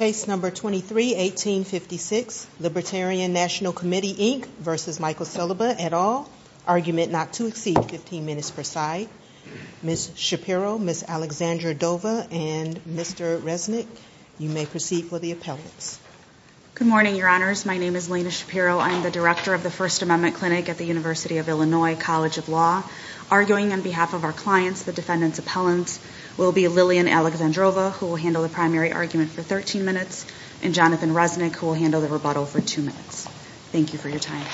at all, argument not to exceed 15 minutes per side. Ms. Shapiro, Ms. Alexandra Dova, and Mr. Resnick, you may proceed for the appellants. Good morning, Your Honors. My name is Lena Shapiro. I am the Director of the First Amendment Clinic at the University of Illinois College of Law. Arguing on behalf of our clients, the defendant's appellant will be Lillian Alexandrova, who will handle the primary argument for 13 minutes, and Jonathan Resnick, who will handle the rebuttal for 2 minutes. Thank you for your time.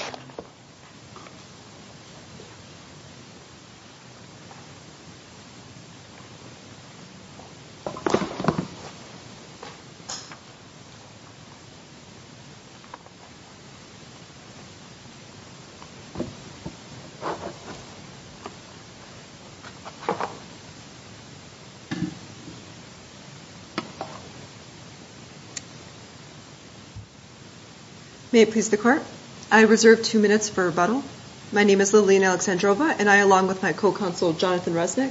May it please the Court. I reserve 2 minutes for rebuttal. My name is Lillian Alexandrova, and I, along with my co-counsel Jonathan Resnick,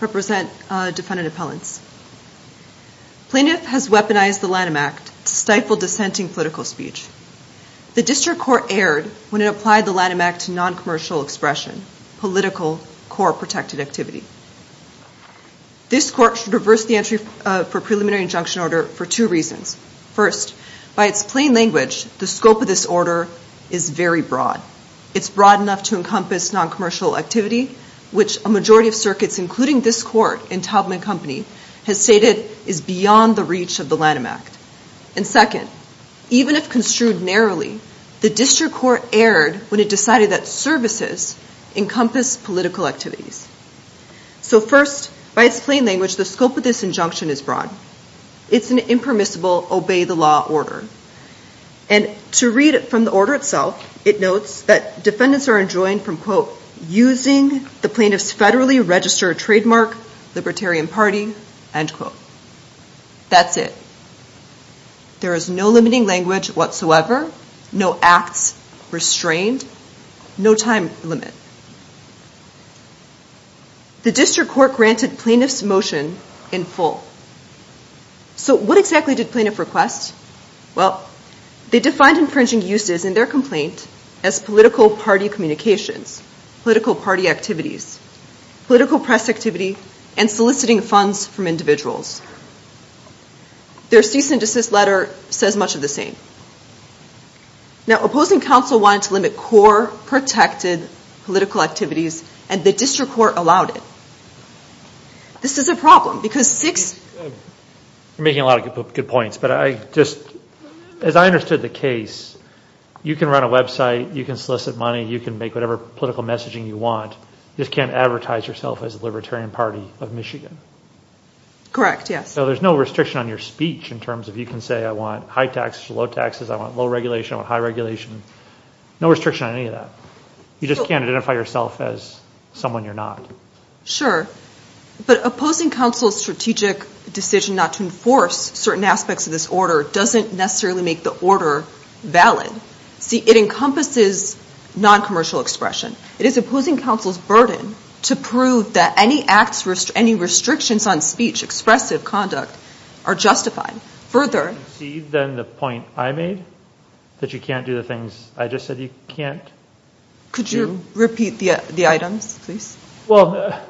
represent defendant appellants. Plaintiff has weaponized the Lanham Act to stifle dissenting political speech. The District Court erred when it applied the Lanham Act to non-commercial expression, political core protected activity. This Court should reverse the entry for preliminary injunction order for two reasons. First, by its plain language, the scope of this order is very broad. It's broad enough to encompass non-commercial activity, which a majority of circuits, including this Court and Taubman Company, has stated is beyond the reach of the Lanham Act. And second, even if construed narrowly, the District Court erred when it decided that services encompass political activities. So first, by its plain language, the scope of this injunction is broad. It's an impermissible obey-the-law order. And to read from the order itself, it notes that defendants are enjoined from, quote, using the plaintiff's federally registered trademark, Libertarian Party, end quote. That's it. There is no limiting language whatsoever, no acts restrained, no time limit. The District Court granted plaintiff's motion in full. So what exactly did plaintiff request? Well, they defined infringing uses in their complaint as political party communications, political party activities, political press activity, and soliciting funds from individuals. Their cease and desist letter says much of the same. Now, opposing counsel wanted to limit core protected political activities, and the District Court allowed it. This is a problem, because six... You're making a lot of good points, but I just, as I understood the case, you can run a website, you can solicit money, you can make whatever political messaging you want, you just can't advertise yourself as the Libertarian Party of Michigan. Correct, yes. So there's no restriction on your speech in terms of you can say I want high taxes or low taxes, I want low regulation, I want high regulation. No restriction on any of that. You just can't identify yourself as someone you're not. Sure. But opposing counsel's strategic decision not to enforce certain aspects of this order doesn't necessarily make the order valid. See, it encompasses non-commercial expression. It is opposing counsel's burden to prove that any acts, any restrictions on speech, expressive conduct, are justified. Further... See, then the point I made, that you can't do the things I just said you can't do... Could you repeat the items, please? Well,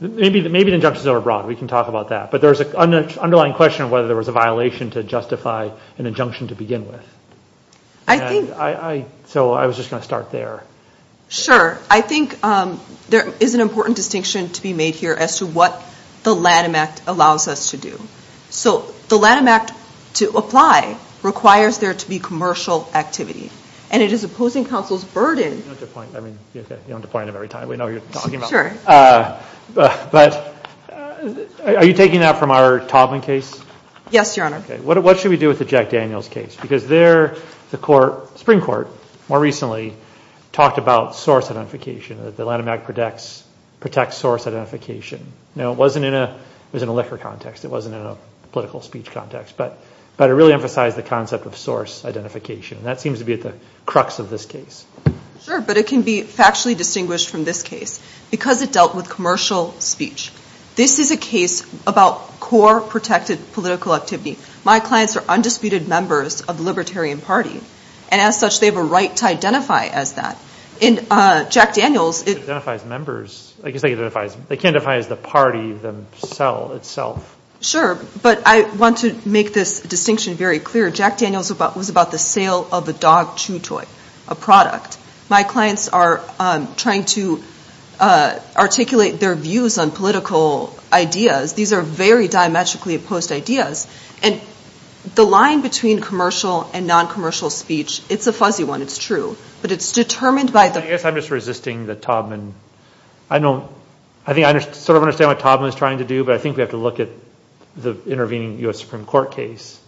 maybe the injunction's overbroad, we can talk about that. But there's an underlying question of whether there was a violation to justify an injunction to begin with. I think... So I was just going to start there. Sure. I think there is an important distinction to be made here as to what the Lanham Act allows us to do. So the Lanham Act, to apply, requires there to be commercial activity. And it is opposing counsel's burden... You know the point of every time, we know what you're talking about. But are you taking that from our Taubman case? Yes, Your Honor. What should we do with the Jack Daniels case? Because there, the Supreme Court, more recently, talked about source identification, that the Lanham Act protects source identification. Now, it wasn't in a liquor context. It wasn't in a political speech context. But it really emphasized the concept of source identification. That seems to be at the crux of this case. Sure, but it can be factually distinguished from this case. Because it dealt with commercial speech. This is a case about core protected political activity. My clients are undisputed members of the Libertarian Party. And as such, they have a right to identify as that. In Jack Daniels... Identify as members. I guess they can identify as the party itself. Sure. But I want to make this distinction very clear. Jack Daniels was about the sale of the dog chew toy, a product. My clients are trying to articulate their views on political ideas. These are very diametrically opposed ideas. And the line between commercial and non-commercial speech, it's a fuzzy one. It's true. But it's determined by the... I guess I'm just resisting the Taubman... I don't... I think I sort of understand what Taubman is trying to do. But I think we have to look at the intervening U.S. Supreme Court case.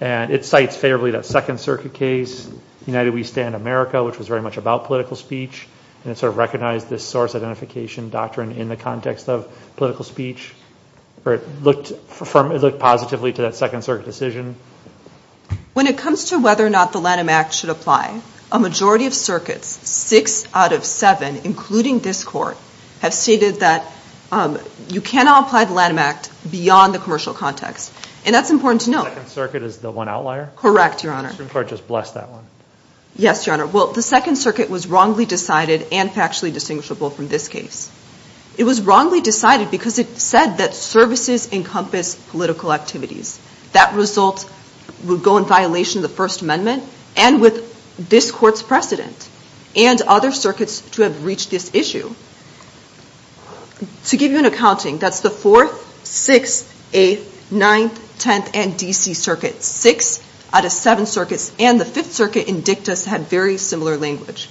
And it cites favorably that Second Circuit case, United We Stand America, which was very much about political speech. And it sort of recognized this source identification doctrine in the context of political speech. It looked positively to that Second Circuit decision. When it comes to whether or not the Lanham Act should apply, a majority of circuits, six out of seven, including this court, have stated that you cannot apply the Lanham Act beyond the commercial context. And that's important to note. Second Circuit is the one outlier? Correct, Your Honor. Supreme Court just blessed that one. Yes, Your Honor. Well, the Second Circuit was wrongly decided and factually distinguishable from this case. It was wrongly decided because it said that services encompass political activities. That result would go in violation of the First Amendment and with this court's precedent and other circuits to have reached this issue. To give you an accounting, that's the Fourth, Sixth, Eighth, Ninth, Tenth, and D.C. circuits. Six out of seven circuits and the Fifth Circuit in dictus had very similar language.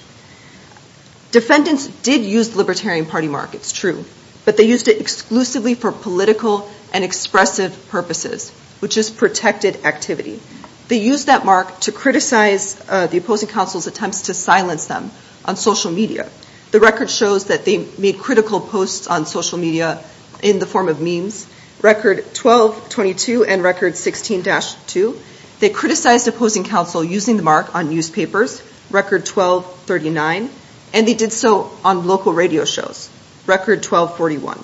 Defendants did use the Libertarian Party mark. It's true. But they used it exclusively for political and expressive purposes, which is protected activity. They used that mark to criticize the opposing counsel's attempts to silence them on social media. The record shows that they made critical posts on social media in the form of memes. Record 1222 and Record 16-2. They criticized opposing counsel using the mark on newspapers. Record 1239. And they did so on local radio shows. Record 1241.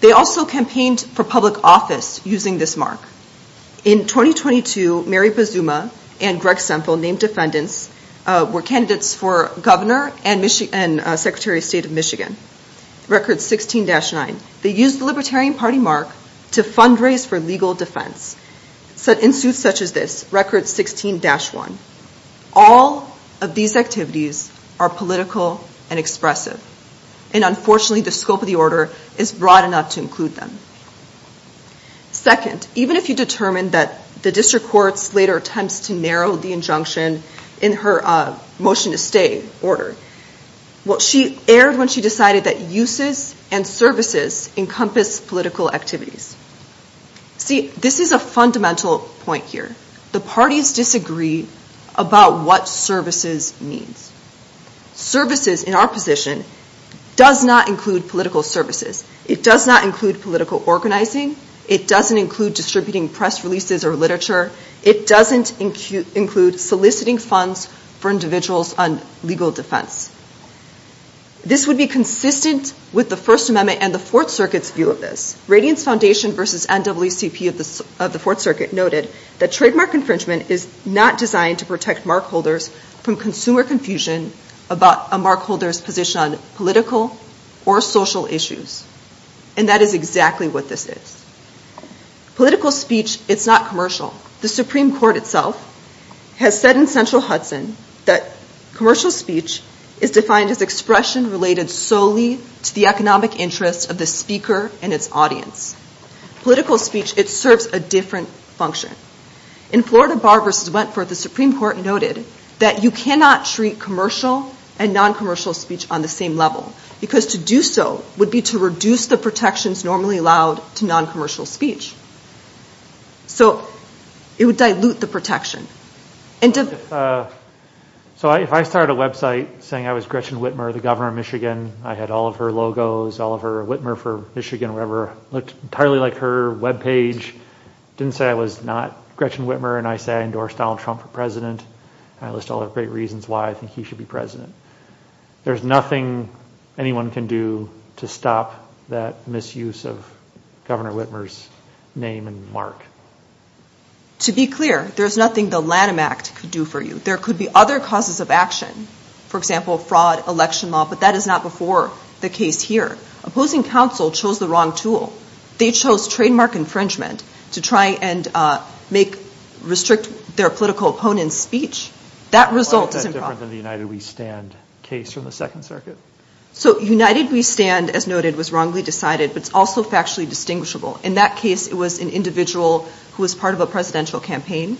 They also campaigned for public office using this mark. In 2022, Mary Pazuma and Greg Semple, named defendants, were candidates for governor and secretary of state of Michigan. Record 16-9. They used the Libertarian Party mark to fundraise for legal defense in suits such as this. Record 16-1. All of these activities are political and expressive. And unfortunately, the scope of the order is broad enough to include them. Second, even if you determine that the district courts later attempts to narrow the injunction in her motion to stay order, she erred when she decided that uses and services encompass political activities. See, this is a fundamental point here. The parties disagree about what services means. Services, in our position, does not include political services. It does not include political organizing. It doesn't include distributing press releases or literature. It doesn't include soliciting funds for individuals on legal defense. This would be consistent with the First Amendment and the Fourth Circuit's view of this. Radiance Foundation versus NAACP of the Fourth Circuit noted that trademark infringement is not designed to protect mark holders from consumer confusion about a mark holder's position on political or social issues. And that is exactly what this is. Political speech, it's not commercial. The Supreme Court itself has said in Central Hudson that commercial speech is defined as expression related solely to the economic interest of the speaker and its audience. Political speech, it serves a different function. In Florida Bar versus Wentworth, the Supreme Court noted that you cannot treat commercial and non-commercial speech on the same level because to do so would be to reduce the protections normally allowed to non-commercial speech. So it would dilute the protection. So if I start a website saying I was Gretchen Whitmer, the governor of Michigan, I had all of her logos, all of her Whitmer for Michigan, whoever looked entirely like her webpage, didn't say I was not Gretchen Whitmer and I say I endorse Donald Trump for president. I list all the great reasons why I think he should be president. There's nothing anyone can do to stop that misuse of Governor Whitmer's name and mark. To be clear, there's nothing the Lanham Act could do for you. There could be other causes of action, for example, fraud, election law, but that is not before the case here. Opposing counsel chose the wrong tool. They chose trademark infringement to try and restrict their political opponent's speech. That result is improper. Why is that different than the United We Stand case from the Second Circuit? So United We Stand, as noted, was wrongly decided, but it's also factually distinguishable. In that case, it was an individual who was part of a presidential campaign,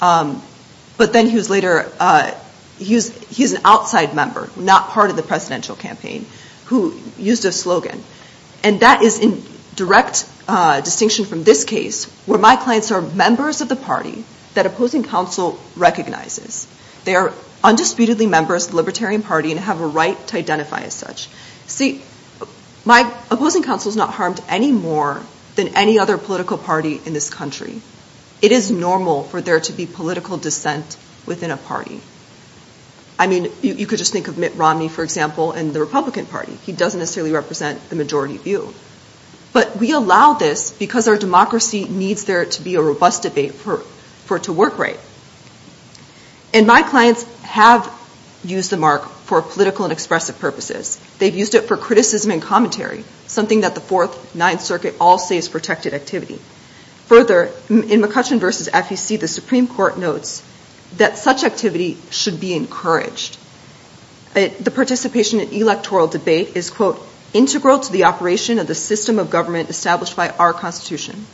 but then he was later, he was an outside member, not part of the presidential campaign, who used a slogan. And that is in direct distinction from this case, where my clients are members of the party that opposing counsel recognizes. They are undisputedly members of the Libertarian Party and have a right to identify as such. See, my opposing counsel is not harmed any more than any other political party in this country. It is normal for there to be political dissent within a party. I mean, you could just think of Mitt Romney, for example, in the Republican Party. He doesn't necessarily represent the majority view. But we allow this because our democracy needs there to be a robust debate for it to work right. And my clients have used the mark for political and expressive purposes. They've used it for criticism and commentary, something that the Fourth, Ninth Circuit all say is protected activity. Further, in McCutcheon v. FEC, the Supreme Court notes that such activity should be encouraged. The participation in electoral debate is, quote, integral to the operation of the system of government established by our Constitution.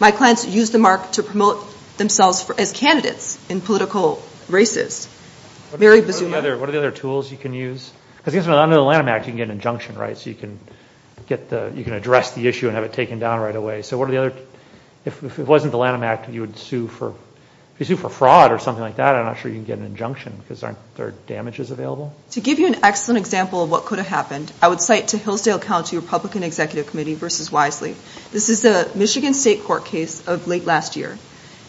My clients use the mark to promote themselves as candidates in political races. What are the other tools you can use? Because under the Lanham Act, you can get an injunction, right? So you can address the issue and have it taken down right away. So if it wasn't the Lanham Act, you would sue for fraud or something like that. I'm not sure you can get an injunction because there are damages available. To give you an excellent example of what could have happened, I would cite to Hillsdale County Republican Executive Committee v. Wisely. This is the Michigan State Court case of late last year.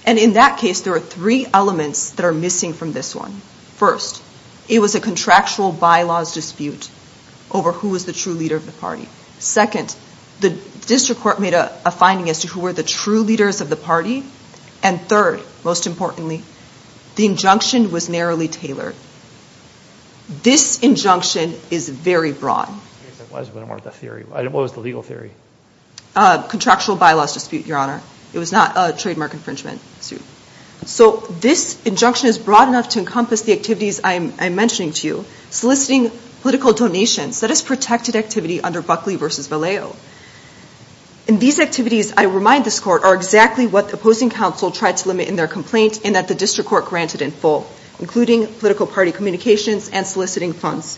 And in that case, there were three elements that are missing from this one. First, it was a contractual bylaws dispute over who was the true leader of the party. Second, the district court made a finding as to who were the true leaders of the party. And third, most importantly, the injunction was narrowly tailored. This injunction is very broad. What was the legal theory? Contractual bylaws dispute, Your Honor. It was not a trademark infringement suit. So this injunction is broad enough to encompass the activities I'm mentioning to you. Soliciting political donations, that is protected activity under Buckley v. Vallejo. And these activities, I remind this court, are exactly what the opposing counsel tried to limit in their complaint and that the district court granted in full, including political party communications and soliciting funds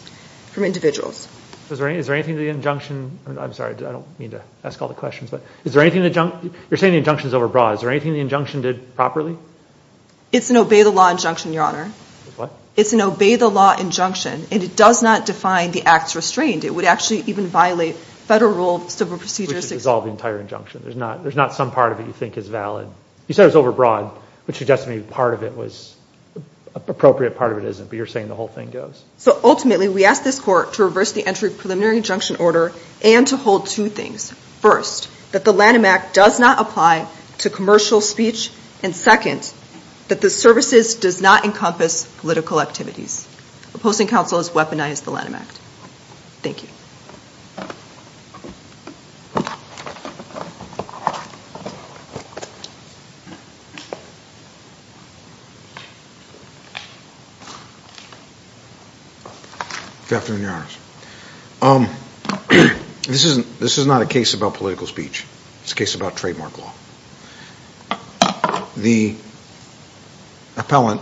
from individuals. Is there anything to the injunction? I'm sorry, I don't mean to ask all the questions. You're saying the injunction is overbroad. Is there anything the injunction did properly? It's an obey-the-law injunction, Your Honor. What? It's an obey-the-law injunction, and it does not define the acts restrained. It would actually even violate federal rule of civil procedures. Which dissolves the entire injunction. There's not some part of it you think is valid. You said it was overbroad, which suggests to me part of it was appropriate, part of it isn't, but you're saying the whole thing goes. So ultimately we ask this court to reverse the entry of preliminary injunction order and to hold two things. First, that the Lanham Act does not apply to commercial speech, and second, that the services does not encompass political activities. Opposing counsel has weaponized the Lanham Act. Thank you. Good afternoon, Your Honor. This is not a case about political speech. It's a case about trademark law. The appellant,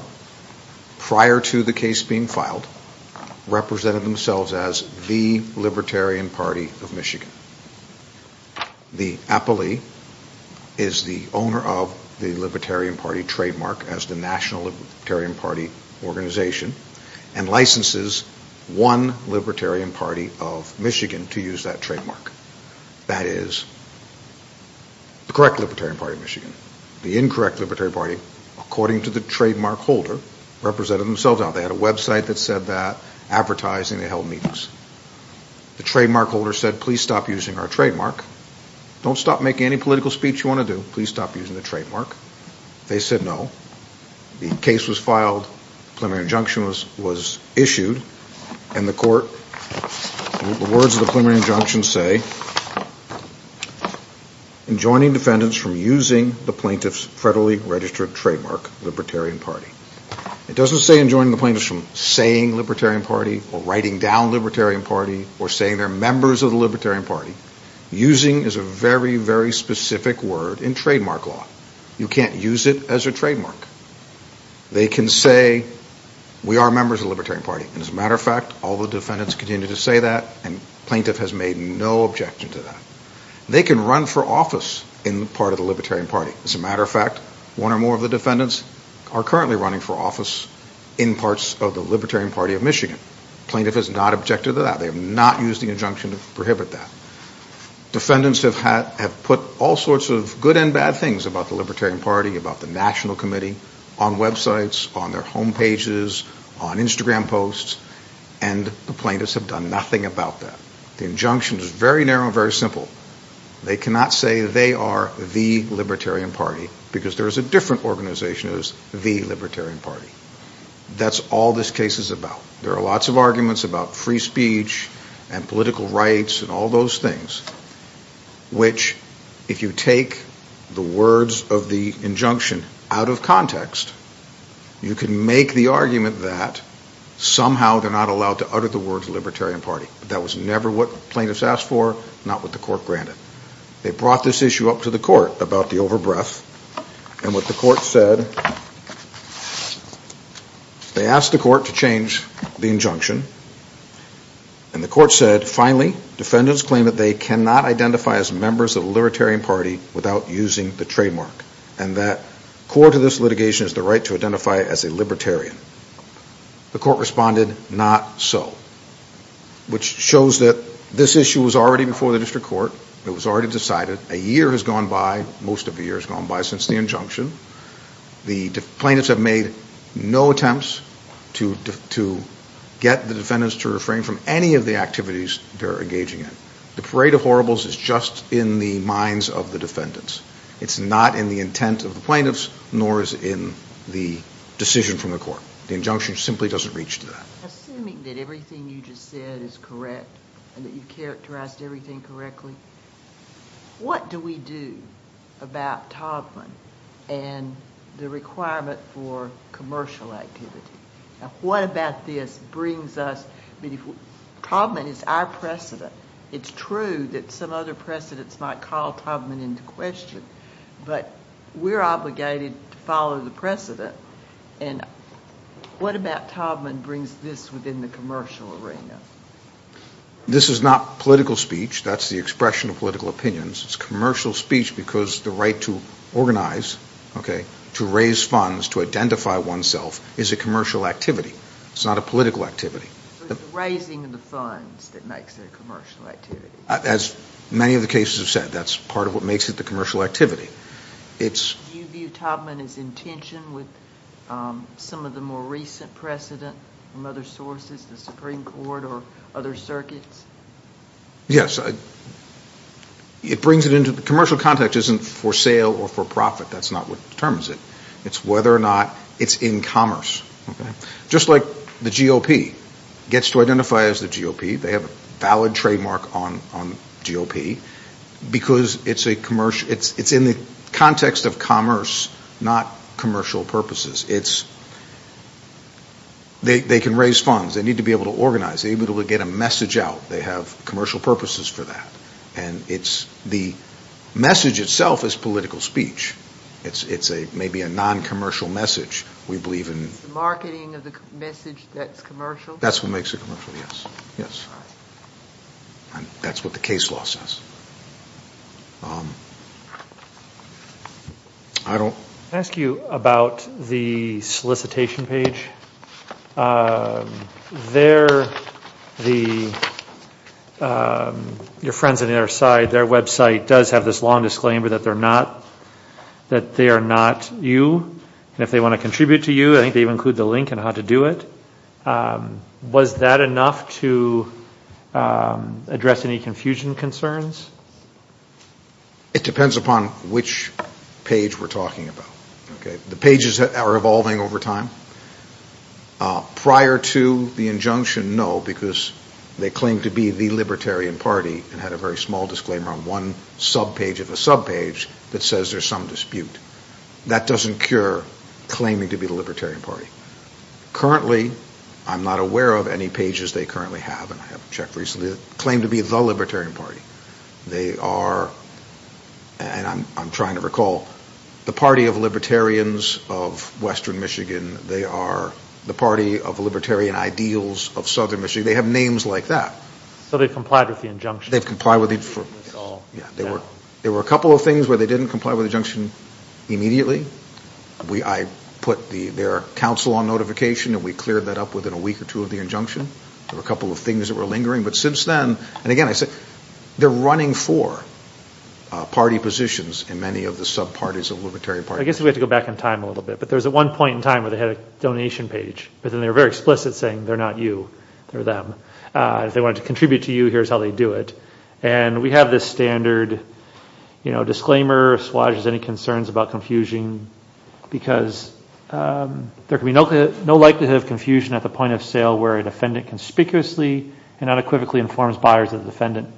prior to the case being filed, represented themselves as the Libertarian Party of Michigan. The appellee is the owner of the Libertarian Party trademark as the National Libertarian Party organization and licenses one Libertarian Party of Michigan to use that trademark. That is the correct Libertarian Party of Michigan. The incorrect Libertarian Party, according to the trademark holder, represented themselves. Now, they had a website that said that, advertising, they held meetings. The trademark holder said, please stop using our trademark. Don't stop making any political speech you want to do. Please stop using the trademark. They said no. The case was filed, preliminary injunction was issued, and the court, the words of the preliminary injunction say, enjoining defendants from using the plaintiff's federally registered trademark, Libertarian Party. It doesn't say enjoining the plaintiff from saying Libertarian Party or writing down Libertarian Party or saying they're members of the Libertarian Party. Using is a very, very specific word in trademark law. You can't use it as a trademark. They can say, we are members of the Libertarian Party. As a matter of fact, all the defendants continue to say that, and the plaintiff has made no objection to that. They can run for office in the part of the Libertarian Party. As a matter of fact, one or more of the defendants are currently running for office in parts of the Libertarian Party of Michigan. The plaintiff has not objected to that. They have not used the injunction to prohibit that. Defendants have put all sorts of good and bad things about the Libertarian Party, about the National Committee, on websites, on their homepages, on Instagram posts, and the plaintiffs have done nothing about that. The injunction is very narrow and very simple. They cannot say they are the Libertarian Party because there is a different organization that is the Libertarian Party. That's all this case is about. There are lots of arguments about free speech and political rights and all those things, which if you take the words of the injunction out of context, you can make the argument that somehow they're not allowed to utter the words Libertarian Party. That was never what plaintiffs asked for, not what the court granted. They brought this issue up to the court about the overbreath, and what the court said, they asked the court to change the injunction, and the court said, finally, defendants claim that they cannot identify as members of the Libertarian Party without using the trademark, and that core to this litigation is the right to identify as a Libertarian. The court responded, not so, which shows that this issue was already before the district court. It was already decided. A year has gone by. Most of the year has gone by since the injunction. The plaintiffs have made no attempts to get the defendants to refrain from any of the activities they're engaging in. The parade of horribles is just in the minds of the defendants. It's not in the intent of the plaintiffs, nor is it in the decision from the court. The injunction simply doesn't reach to that. Assuming that everything you just said is correct, and that you've characterized everything correctly, what do we do about Taubman and the requirement for commercial activity? What about this brings us, Taubman is our precedent. It's true that some other precedents might call Taubman into question, but we're obligated to follow the precedent, and what about Taubman brings this within the commercial arena? This is not political speech. That's the expression of political opinions. It's commercial speech because the right to organize, to raise funds, to identify oneself is a commercial activity. It's not a political activity. Raising the funds that makes it a commercial activity. As many of the cases have said, that's part of what makes it the commercial activity. Do you view Taubman as in tension with some of the more recent precedent from other sources, the Supreme Court or other circuits? Yes. Commercial context isn't for sale or for profit. That's not what determines it. It's whether or not it's in commerce. Just like the GOP gets to identify as the GOP. They have a valid trademark on GOP because it's in the context of commerce, not commercial purposes. They can raise funds. They need to be able to organize. They need to be able to get a message out. They have commercial purposes for that, and the message itself is political speech. It's maybe a non-commercial message. It's the marketing of the message that's commercial? That's what makes it commercial, yes. That's what the case law says. I don't. Can I ask you about the solicitation page? Your friends on the other side, their website does have this long disclaimer that they are not you, and if they want to contribute to you, I think they include the link on how to do it. Was that enough to address any confusion concerns? It depends upon which page we're talking about. The pages are evolving over time. Prior to the injunction, no, because they claim to be the Libertarian Party and had a very small disclaimer on one subpage of a subpage that says there's some dispute. That doesn't cure claiming to be the Libertarian Party. Currently, I'm not aware of any pages they currently have, and I haven't checked recently, that claim to be the Libertarian Party. They are, and I'm trying to recall, the Party of Libertarians of Western Michigan. They are the Party of Libertarian Ideals of Southern Michigan. They have names like that. So they've complied with the injunction? They've complied with it. There were a couple of things where they didn't comply with the injunction immediately. I put their counsel on notification, and we cleared that up within a week or two of the injunction. There were a couple of things that were lingering, but since then, and again, they're running for party positions in many of the subparties of Libertarian Party. I guess we have to go back in time a little bit, but there was one point in time where they had a donation page, but then they were very explicit saying, they're not you, they're them. If they wanted to contribute to you, here's how they do it. And we have this standard disclaimer, and I'm not sure if Swaj has any concerns about confusion, because there can be no likelihood of confusion at the point of sale where a defendant conspicuously and unequivocally informs buyers of the defendant,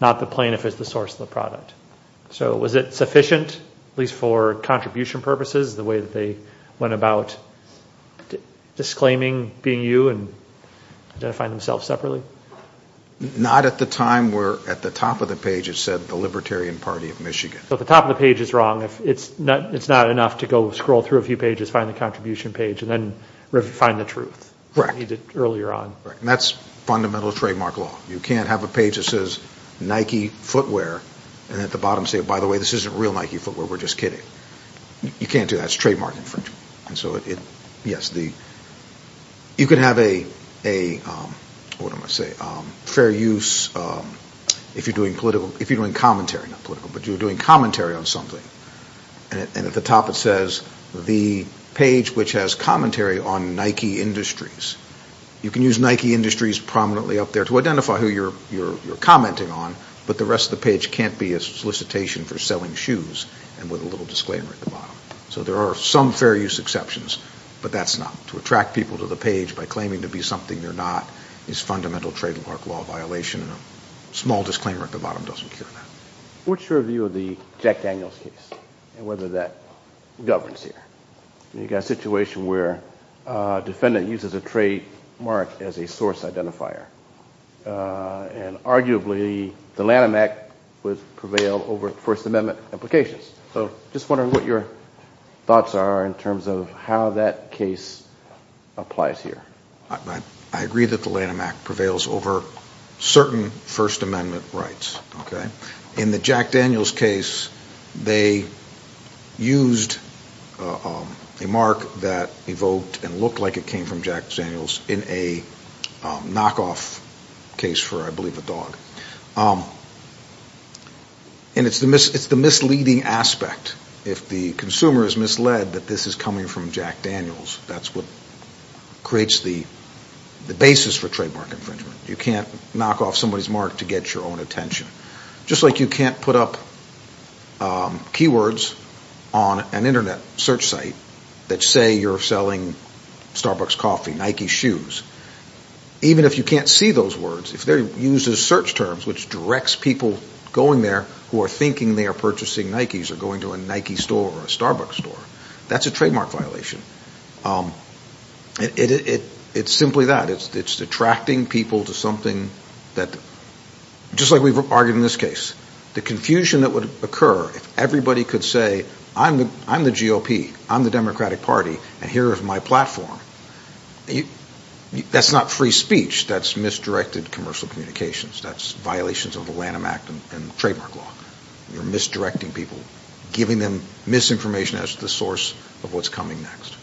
not the plaintiff as the source of the product. So was it sufficient, at least for contribution purposes, the way that they went about disclaiming being you and identifying themselves separately? Not at the time where at the top of the page it said, the Libertarian Party of Michigan. So at the top of the page is wrong. It's not enough to go scroll through a few pages, find the contribution page, and then find the truth. Correct. Earlier on. And that's fundamental trademark law. You can't have a page that says Nike footwear, and at the bottom say, by the way, this isn't real Nike footwear, we're just kidding. You can't do that. It's trademark infringement. And so, yes, you could have a, what am I going to say, fair use, if you're doing commentary on something. And at the top it says, the page which has commentary on Nike Industries. You can use Nike Industries prominently up there to identify who you're commenting on, but the rest of the page can't be a solicitation for selling shoes, and with a little disclaimer at the bottom. So there are some fair use exceptions, but that's not. To attract people to the page by claiming to be something they're not is fundamental trademark law violation, and a small disclaimer at the bottom doesn't cure that. What's your view of the Jack Daniels case, and whether that governs here? You've got a situation where a defendant uses a trademark as a source identifier, and arguably the Lanham Act would prevail over First Amendment applications. So I'm just wondering what your thoughts are in terms of how that case applies here. I agree that the Lanham Act prevails over certain First Amendment rights. In the Jack Daniels case, they used a mark that evoked and looked like it came from Jack Daniels in a knockoff case for, I believe, a dog. And it's the misleading aspect. If the consumer is misled that this is coming from Jack Daniels, that's what creates the basis for trademark infringement. You can't knock off somebody's mark to get your own attention. Just like you can't put up keywords on an Internet search site that say you're selling Starbucks coffee, Nike shoes. Even if you can't see those words, if they're used as search terms, which directs people going there who are thinking they are purchasing Nikes, or going to a Nike store or a Starbucks store, that's a trademark violation. It's simply that. It's attracting people to something that, just like we've argued in this case, the confusion that would occur if everybody could say, I'm the GOP, I'm the Democratic Party, and here is my platform. That's not free speech. That's misdirected commercial communications. That's violations of the Lanham Act and trademark law. You're misdirecting people, giving them misinformation as the source of what's coming next.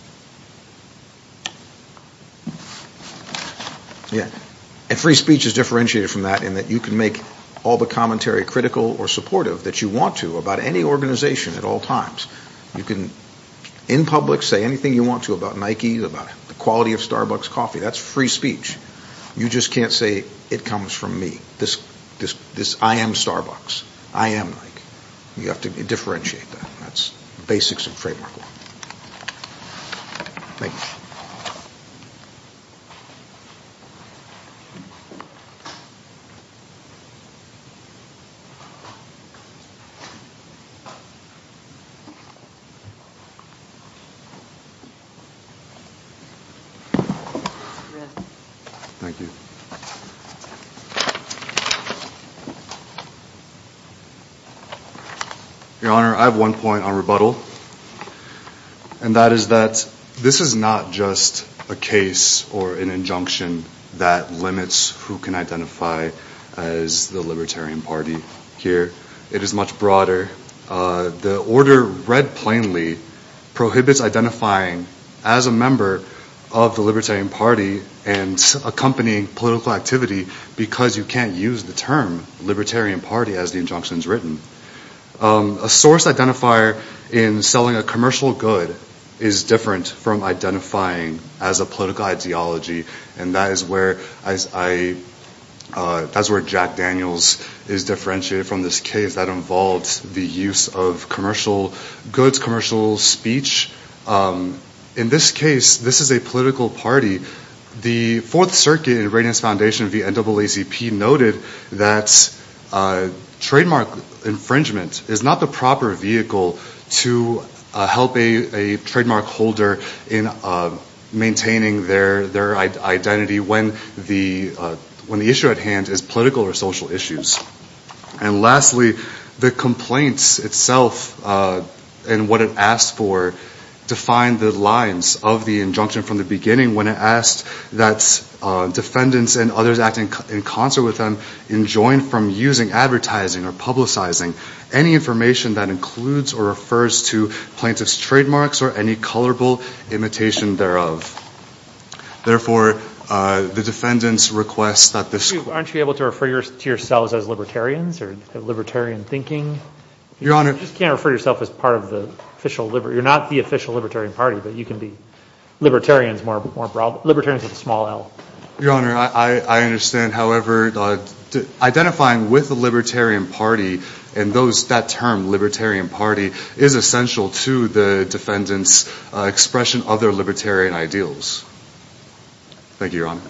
Free speech is differentiated from that in that you can make all the commentary critical or supportive that you want to about any organization at all times. You can, in public, say anything you want to about Nikes, about the quality of Starbucks coffee. That's free speech. You just can't say, it comes from me. I am Starbucks. I am Nike. You have to differentiate that. That's basics of trademark law. Thank you. Thank you. Your Honor, I have one point on rebuttal. And that is that this is not just a case or an injunction that limits who can identify as the Libertarian Party here. It is much broader. The order, read plainly, prohibits identifying as a member of the Libertarian Party and accompanying political activity because you can't use the term Libertarian Party as the injunction is written. A source identifier in selling a commercial good is different from identifying as a political ideology. And that is where Jack Daniels is differentiated from this case. That involves the use of commercial goods, commercial speech. In this case, this is a political party. The Fourth Circuit and the Radiance Foundation and the NAACP noted that trademark infringement is not the proper vehicle to help a trademark holder in maintaining their identity when the issue at hand is political or social issues. And lastly, the complaints itself and what it asked for defined the lines of the injunction from the beginning when it asked that defendants and others acting in concert with them enjoin from using advertising or publicizing any information that includes or refers to plaintiff's trademarks or any colorable imitation thereof. Therefore, the defendants request that this court... Aren't you able to refer to yourselves as Libertarians or have Libertarian thinking? Your Honor... You just can't refer to yourself as part of the official... You're not the official Libertarian Party, but you can be Libertarians with a small l. Your Honor, I understand. However, identifying with the Libertarian Party and that term Libertarian Party is essential to the defendants' expression of their Libertarian ideals. Thank you, Your Honor.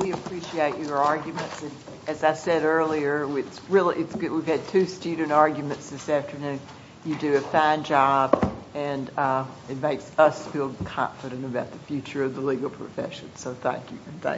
We appreciate your arguments. As I said earlier, we've had two student arguments this afternoon. You do a fine job, and it makes us feel confident about the future of the legal profession. So thank you.